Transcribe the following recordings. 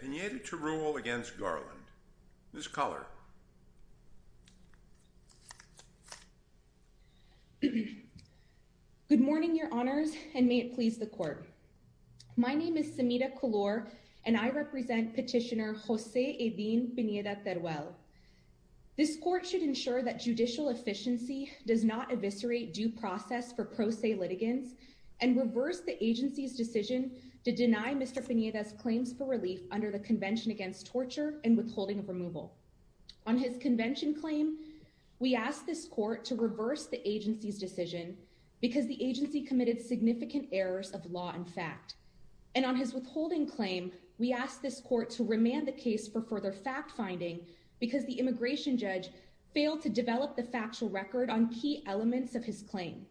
Pineda-Teruel v. Garland Good morning, Your Honors, and may it please the Court. My name is Semida Kulor, and I represent Petitioner Jose Edin Pineda-Teruel. This Court should ensure that judicial efficiency does not eviscerate due process for pro se litigants and reverse the agency's decision to deny Mr. Pineda's claims for relief under the Convention Against Torture and Withholding of Removal. On his convention claim, we asked this Court to reverse the agency's decision because the agency committed significant errors of law and fact. And on his withholding claim, we asked this Court to remand the case for further fact-finding because the immigration judge failed to develop the factual record on key elements of his claim.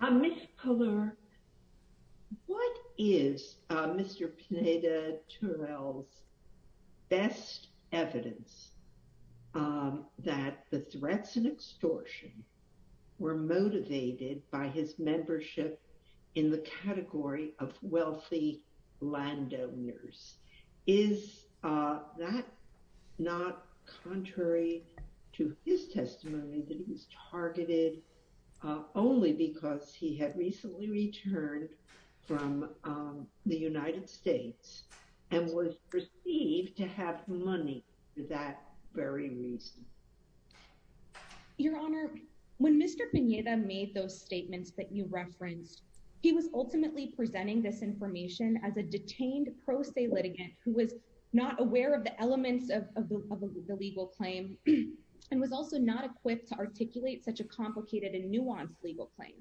Ms. Kulor, what is Mr. Pineda-Teruel's best evidence that the threats and extortion were motivated by his membership in the category of wealthy landowners? Is that not contrary to his testimony that he was targeted only because he had recently returned from the United States and was perceived to have money for that very reason? Your Honor, when Mr. Pineda made those statements that you referenced, he was ultimately presenting this information as a detained pro se litigant who was not aware of the elements of the legal claim and was also not equipped to articulate such a complicated and nuanced legal claim.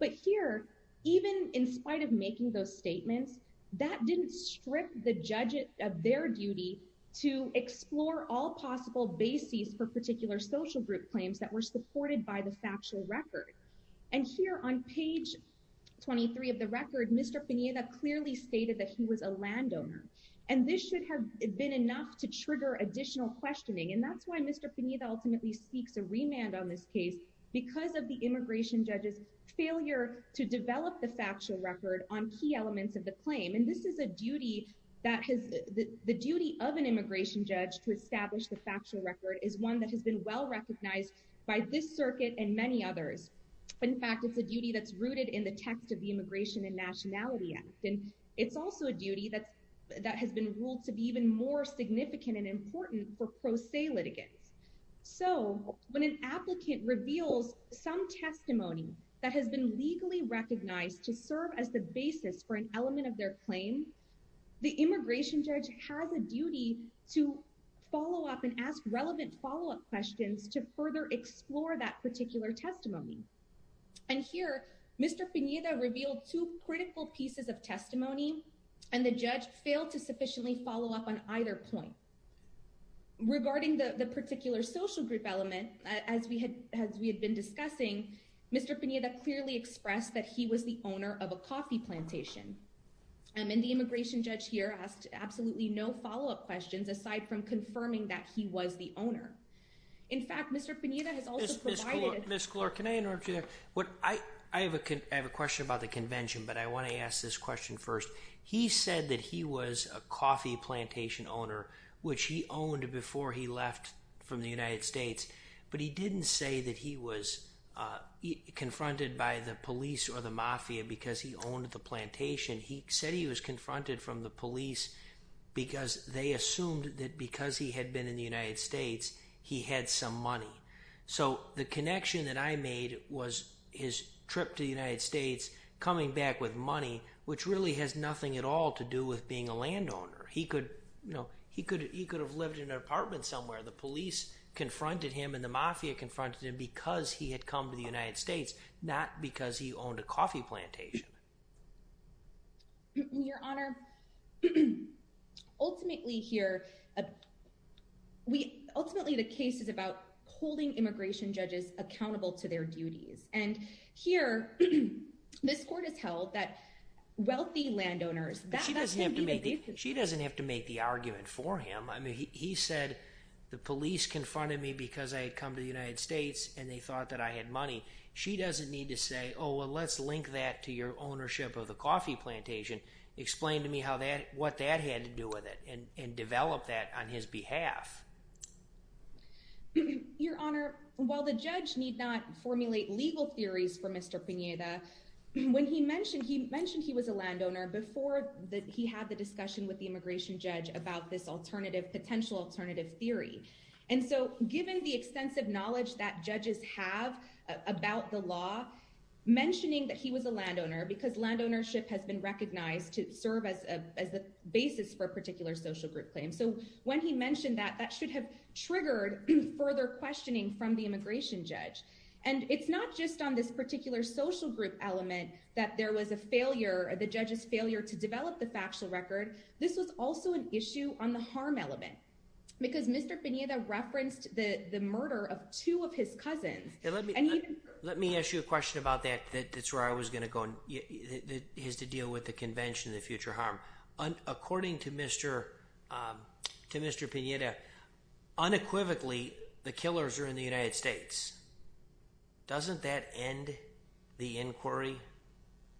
But here, even in spite of making those statements, that didn't strip the judge of their duty to explore all possible bases for particular social group claims that were supported by the factual record. And here on page 23 of the record, Mr. Pineda clearly stated that he was a landowner. And this should have been enough to trigger additional questioning. And that's why Mr. Pineda ultimately seeks a remand on this case because of the immigration judge's failure to develop the factual record on key elements of the claim. And this is a duty that has the duty of an immigration judge to establish the factual record is one that has been well recognized by this circuit and many others. In fact, it's a duty that's rooted in the text of the Immigration and Nationality Act. And it's also a duty that's that has been ruled to be even more significant and important for pro se litigants. So when an applicant reveals some testimony that has been legally recognized to serve as the basis for an element of their claim, the immigration judge has a duty to follow up and ask relevant follow up questions to further explore that particular testimony. And here, Mr. Pineda revealed two critical pieces of testimony and the judge failed to sufficiently follow up on either point. Regarding the particular social group element, as we had been discussing, Mr. Pineda clearly expressed that he was the owner of a coffee plantation. And the immigration judge here asked absolutely no follow up questions aside from confirming that he was the owner. In fact, Mr. Pineda has also provided... Ms. Klor, can I interrupt you there? I have a question about the convention, but I want to ask this question first. He said that he was a coffee plantation owner, which he owned before he left from the United States. But he didn't say that he was confronted by the police or the mafia because he owned the plantation. He said he was confronted from the police because they assumed that because he had been in the United States, he had some money. So the connection that I made was his trip to the United States, coming back with money, which really has nothing at all to do with being a landowner. He could have lived in an apartment somewhere. The police confronted him and the mafia confronted him because he had come to the United States, not because he owned a coffee plantation. Your Honor, ultimately here, ultimately the case is about holding immigration judges accountable to their duties. And here this court has held that wealthy landowners... She doesn't have to make the argument for him. I mean, he said the police confronted me because I had come to the United States and they thought that I had money. She doesn't need to say, oh, well, let's link that to your ownership of the coffee plantation. Explain to me what that had to do with it and develop that on his behalf. Your Honor, while the judge need not formulate legal theories for Mr. Pineda, when he mentioned he mentioned he was a landowner before he had the discussion with the immigration judge about this alternative, potential alternative theory. And so given the extensive knowledge that judges have about the law, mentioning that he was a landowner because land ownership has been recognized to serve as a basis for a particular social group claim. So when he mentioned that, that should have triggered further questioning from the immigration judge. And it's not just on this particular social group element that there was a failure, the judge's failure to develop the factual record. This was also an issue on the harm element because Mr. Pineda referenced the murder of two of his cousins. Let me let me ask you a question about that. That's where I was going to go is to deal with the convention of future harm. According to Mr. Pineda, unequivocally, the killers are in the United States. Doesn't that end the inquiry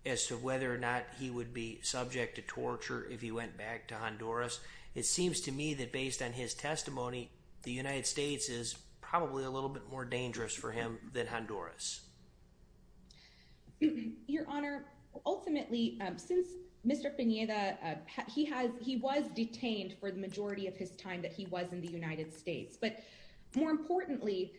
as to whether or not he would be subject to torture if he went back to Honduras? It seems to me that based on his testimony, the United States is probably a little bit more dangerous for him than Honduras. Your Honor, ultimately, since Mr. Pineda, he has he was detained for the majority of his time that he was in the United States. But more importantly,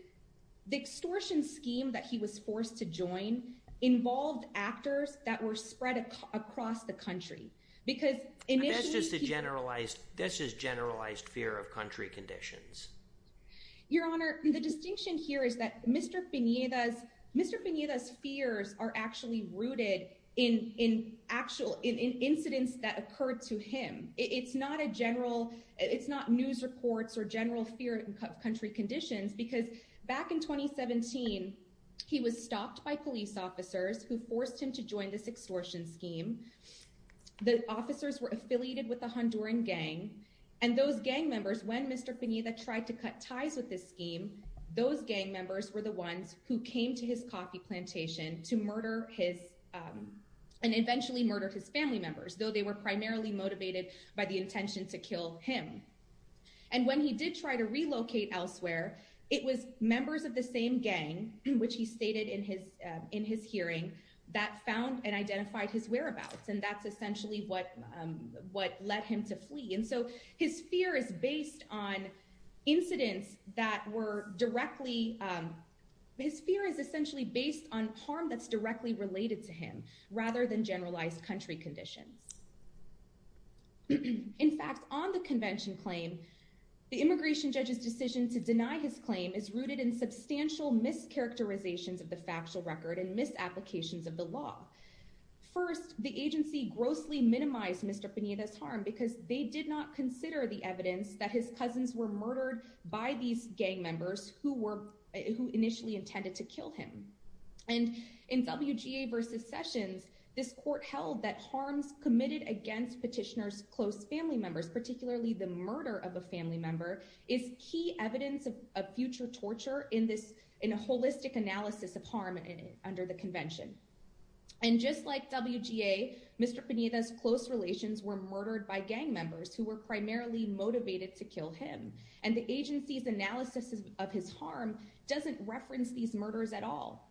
the extortion scheme that he was forced to join involved actors that were spread across the country. Because that's just a generalized this is generalized fear of country conditions. Your Honor, the distinction here is that Mr. Pineda's Mr. Pineda's fears are actually rooted in in actual in incidents that occurred to him. It's not a general it's not news reports or general fear of country conditions, because back in 2017, he was stopped by police officers who forced him to join this extortion scheme. The officers were affiliated with the Honduran gang and those gang members. When Mr. Pineda tried to cut ties with this scheme, those gang members were the ones who came to his coffee plantation to murder his and eventually murder his family members. Though they were primarily motivated by the intention to kill him. And when he did try to relocate elsewhere, it was members of the same gang, which he stated in his in his hearing, that found and identified his whereabouts. And that's essentially what what led him to flee. And so his fear is based on incidents that were directly. His fear is essentially based on harm that's directly related to him rather than generalized country conditions. In fact, on the convention claim, the immigration judge's decision to deny his claim is rooted in substantial mischaracterizations of the factual record and misapplications of the law. First, the agency grossly minimized Mr. Pineda's harm because they did not consider the evidence that his cousins were murdered by these gang members who were who initially intended to kill him. And in WGA versus Sessions, this court held that harms committed against petitioners, close family members, particularly the murder of a family member, is key evidence of future torture in this in a holistic analysis of harm under the convention. And just like WGA, Mr. Pineda's close relations were murdered by gang members who were primarily motivated to kill him. And the agency's analysis of his harm doesn't reference these murders at all.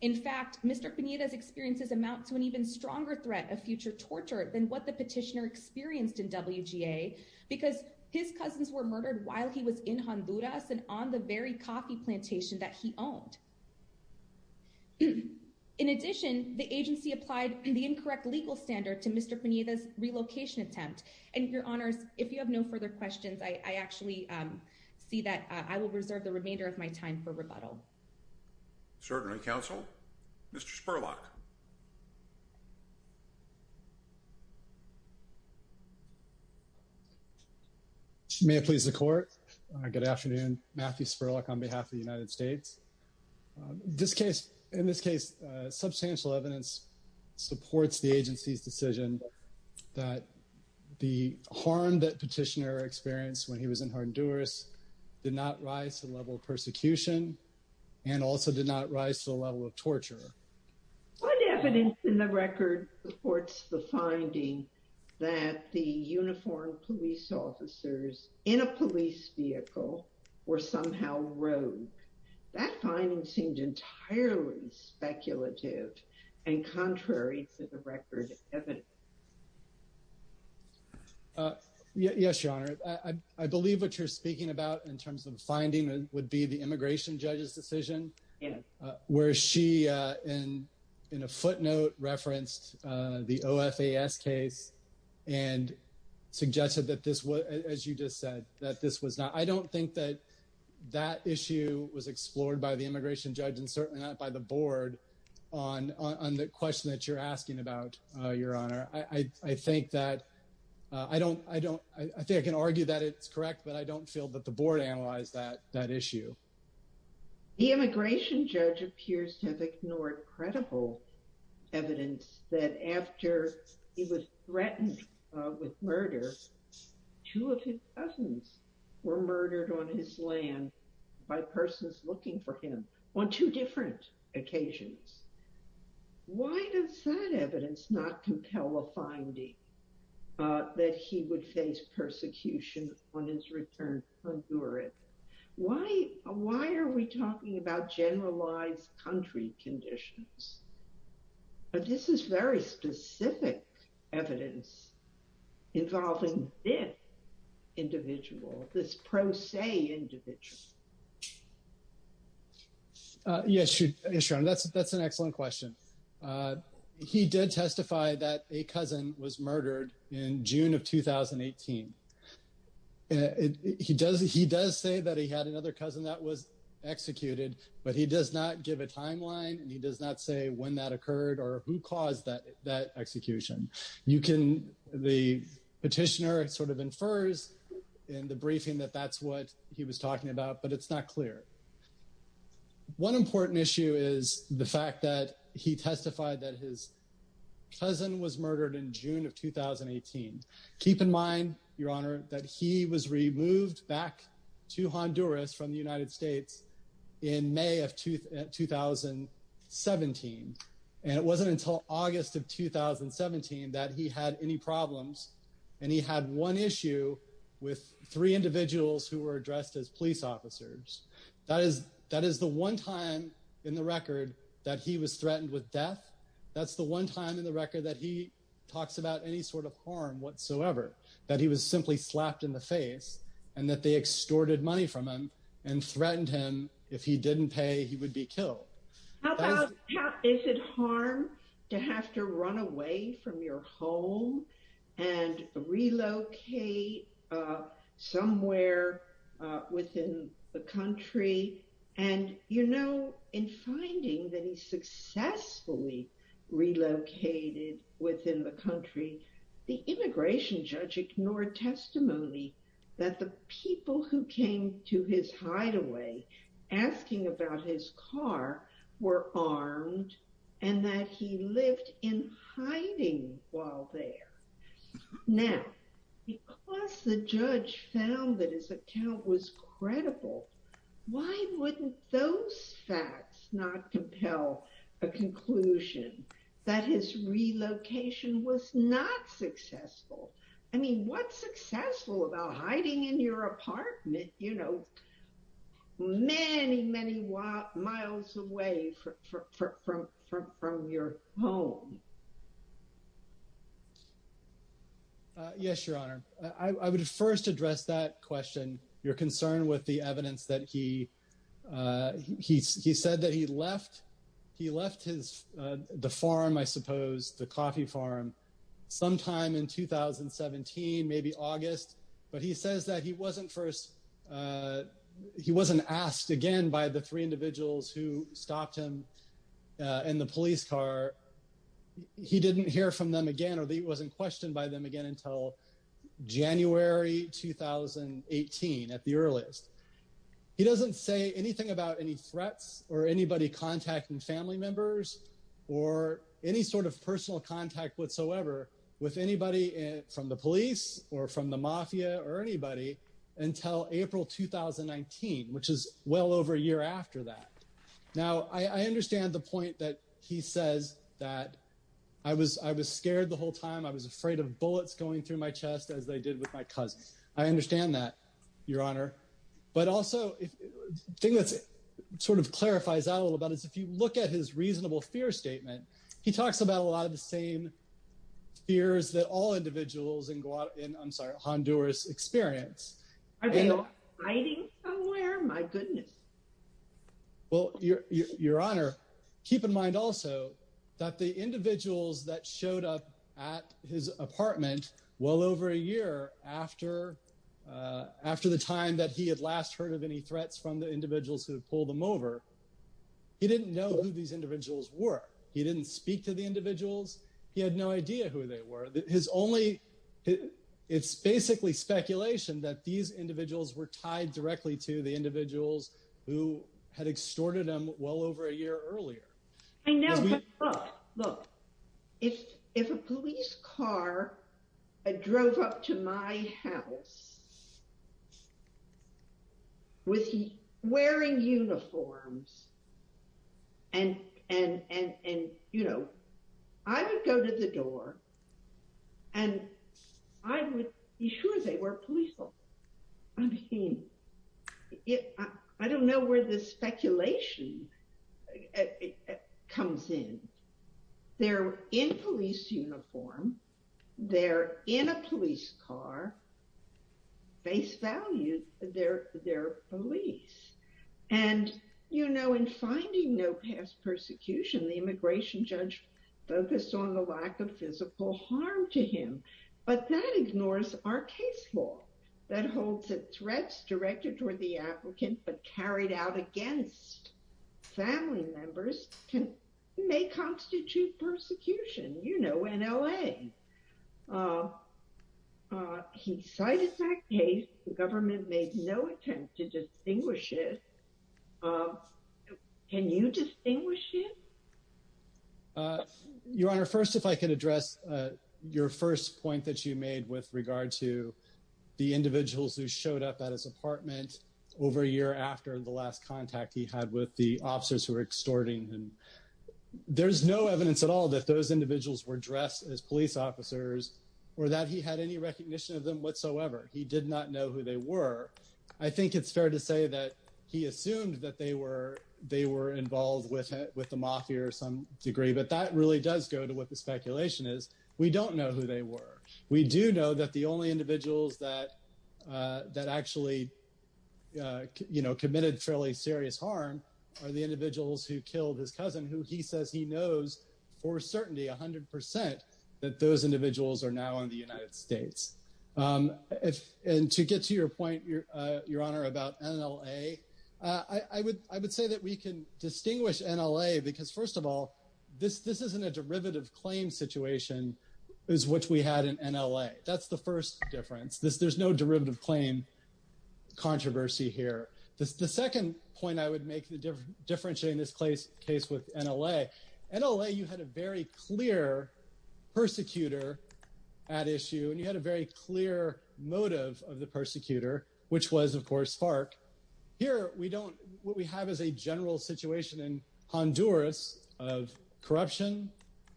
In fact, Mr. Pineda's experiences amount to an even stronger threat of future torture than what the petitioner experienced in WGA because his cousins were murdered while he was in Honduras and on the very coffee plantation that he owned. In addition, the agency applied the incorrect legal standard to Mr. Pineda's relocation attempt. And your honors, if you have no further questions, I actually see that I will reserve the remainder of my time for rebuttal. Certainly, counsel. Mr. Spurlock. May it please the court. Good afternoon. Matthew Spurlock on behalf of the United States. In this case, substantial evidence supports the agency's decision that the harm that petitioner experienced when he was in Honduras did not rise to the level of persecution and also did not rise to the level of torture. What evidence in the record supports the finding that the uniformed police officers in a police vehicle were somehow rogue? That finding seemed entirely speculative and contrary to the record. Yes, your honor. I believe what you're speaking about in terms of finding would be the immigration judge's decision where she and in a footnote referenced the O.F.A.S. case and suggested that this was, as you just said, that this was not. I don't think that that issue was explored by the immigration judge and certainly not by the board on the question that you're asking about, your honor. I think that I don't, I don't, I think I can argue that it's correct, but I don't feel that the board analyzed that issue. The immigration judge appears to have ignored credible evidence that after he was threatened with murder, two of his cousins were murdered on his land by persons looking for him on two different occasions. Why does that evidence not compel a finding that he would face persecution on his return to Honduras? Why, why are we talking about generalized country conditions? But this is very specific evidence involving this individual, this pro se individual. Yes, your honor, that's an excellent question. He did testify that a cousin was murdered in June of 2018. He does say that he had another cousin that was executed, but he does not give a timeline and he does not say when that occurred or who caused that execution. You can, the petitioner sort of infers in the briefing that that's what he was talking about, but it's not clear. One important issue is the fact that he testified that his cousin was murdered in June of 2018. Keep in mind, your honor, that he was removed back to Honduras from the United States in May of 2017. And it wasn't until August of 2017 that he had any problems and he had one issue with three individuals who were addressed as police officers. That is, that is the one time in the record that he was threatened with death. That's the one time in the record that he talks about any sort of harm whatsoever, that he was simply slapped in the face and that they extorted money from him and threatened him if he didn't pay, he would be killed. Is it harm to have to run away from your home and relocate somewhere within the country? And, you know, in finding that he successfully relocated within the country, the immigration judge ignored testimony that the people who came to his hideaway asking about his car were armed and that he lived in hiding while there. Now, because the judge found that his account was credible, why wouldn't those facts not compel a conclusion that his relocation was not successful? I mean, what's successful about hiding in your apartment, you know, many, many miles away from your home? Yes, Your Honor. I would first address that question. You're concerned with the evidence that he he said that he left. He left his the farm, I suppose, the coffee farm sometime in 2017, maybe August. But he says that he wasn't first he wasn't asked again by the three individuals who stopped him in the police car. He didn't hear from them again or he wasn't questioned by them again until January 2018 at the earliest. He doesn't say anything about any threats or anybody contacting family members or any sort of personal contact whatsoever with anybody from the police or from the mafia or anybody until April 2019, which is well over a year after that. Now, I understand the point that he says that I was I was scared the whole time I was afraid of bullets going through my chest as they did with my cousin. I understand that, Your Honor. But also, the thing that sort of clarifies that a little bit is if you look at his reasonable fear statement, he talks about a lot of the same fears that all individuals in I'm sorry, Honduras experience. Are they all hiding somewhere? My goodness. Well, Your Honor, keep in mind also that the individuals that showed up at his apartment well over a year after after the time that he had last heard of any threats from the individuals who pulled them over. He didn't know who these individuals were. He didn't speak to the individuals. He had no idea who they were. His only it's basically speculation that these individuals were tied directly to the individuals who had extorted him well over a year earlier. I know. Look, if if a police car drove up to my house with wearing uniforms and and and and, you know, I would go to the door. And I would be sure they were police. I mean, I don't know where this speculation comes in. They're in police uniform. They're in a police car. They face value. They're they're police. And, you know, in finding no past persecution, the immigration judge focused on the lack of physical harm to him. But that ignores our case law that holds that threats directed toward the applicant but carried out against family members can may constitute persecution. You know, in L.A. He cited that case. The government made no attempt to distinguish it. Can you distinguish it? Your Honor, first, if I can address your first point that you made with regard to the individuals who showed up at his apartment over a year after the last contact he had with the officers who were extorting him. There's no evidence at all that those individuals were dressed as police officers or that he had any recognition of them whatsoever. He did not know who they were. I think it's fair to say that he assumed that they were they were involved with with the mafia or some degree. But that really does go to what the speculation is. We don't know who they were. We do know that the only individuals that that actually committed fairly serious harm are the individuals who killed his cousin, who he says he knows for certainty 100 percent that those individuals are now in the United States. And to get to your point, Your Honor, about N.L.A., I would I would say that we can distinguish N.L.A. because, first of all, this this isn't a derivative claim situation is what we had in N.L.A. That's the first difference. There's no derivative claim controversy here. The second point I would make the difference in this case with N.L.A. N.L.A., you had a very clear persecutor at issue and you had a very clear motive of the persecutor, which was, of course, Spark. Here we don't what we have is a general situation in Honduras of corruption,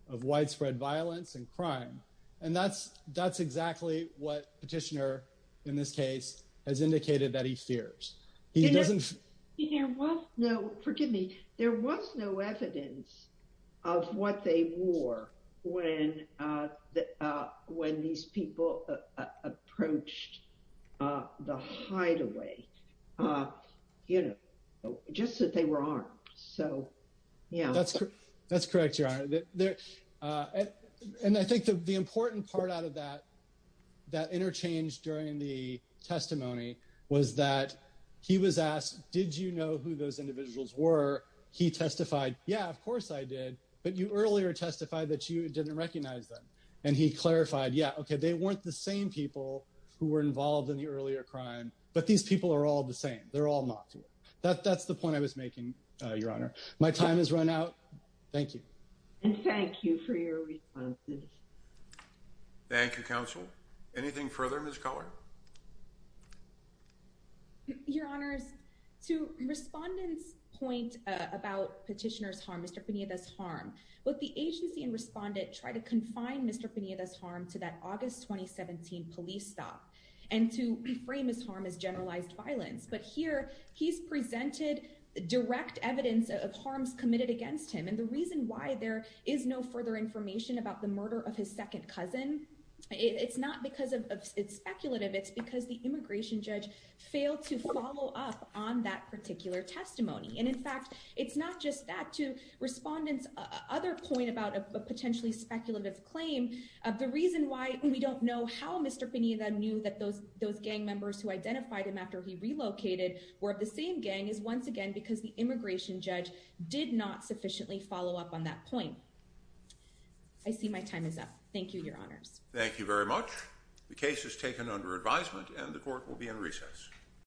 of widespread violence and crime. And that's that's exactly what Petitioner in this case has indicated that he fears he doesn't know. No, forgive me. There was no evidence of what they wore when when these people approached the hideaway, you know, just that they were armed. So, yeah, that's correct. That's correct, Your Honor. And I think the important part out of that, that interchange during the testimony was that he was asked, did you know who those individuals were? He testified, yeah, of course I did. But you earlier testified that you didn't recognize them. And he clarified, yeah, OK, they weren't the same people who were involved in the earlier crime. But these people are all the same. They're all not. That's the point I was making, Your Honor. My time has run out. Thank you. And thank you for your responses. Thank you, counsel. Anything further, Ms. Collard? Your Honors, to respondent's point about Petitioner's harm, Mr. Pineda's harm, what the agency and respondent tried to confine Mr. Pineda's harm to that August 2017 police stop and to reframe his harm as generalized violence. But here he's presented direct evidence of harms committed against him. And the reason why there is no further information about the murder of his second cousin, it's not because it's speculative. It's because the immigration judge failed to follow up on that particular testimony. And in fact, it's not just that. To respondent's other point about a potentially speculative claim, the reason why we don't know how Mr. Pineda knew that those gang members who identified him after he relocated were of the same gang is once again because the immigration judge did not sufficiently follow up on that point. I see my time is up. Thank you, Your Honors. Thank you very much. The case is taken under advisement and the court will be in recess.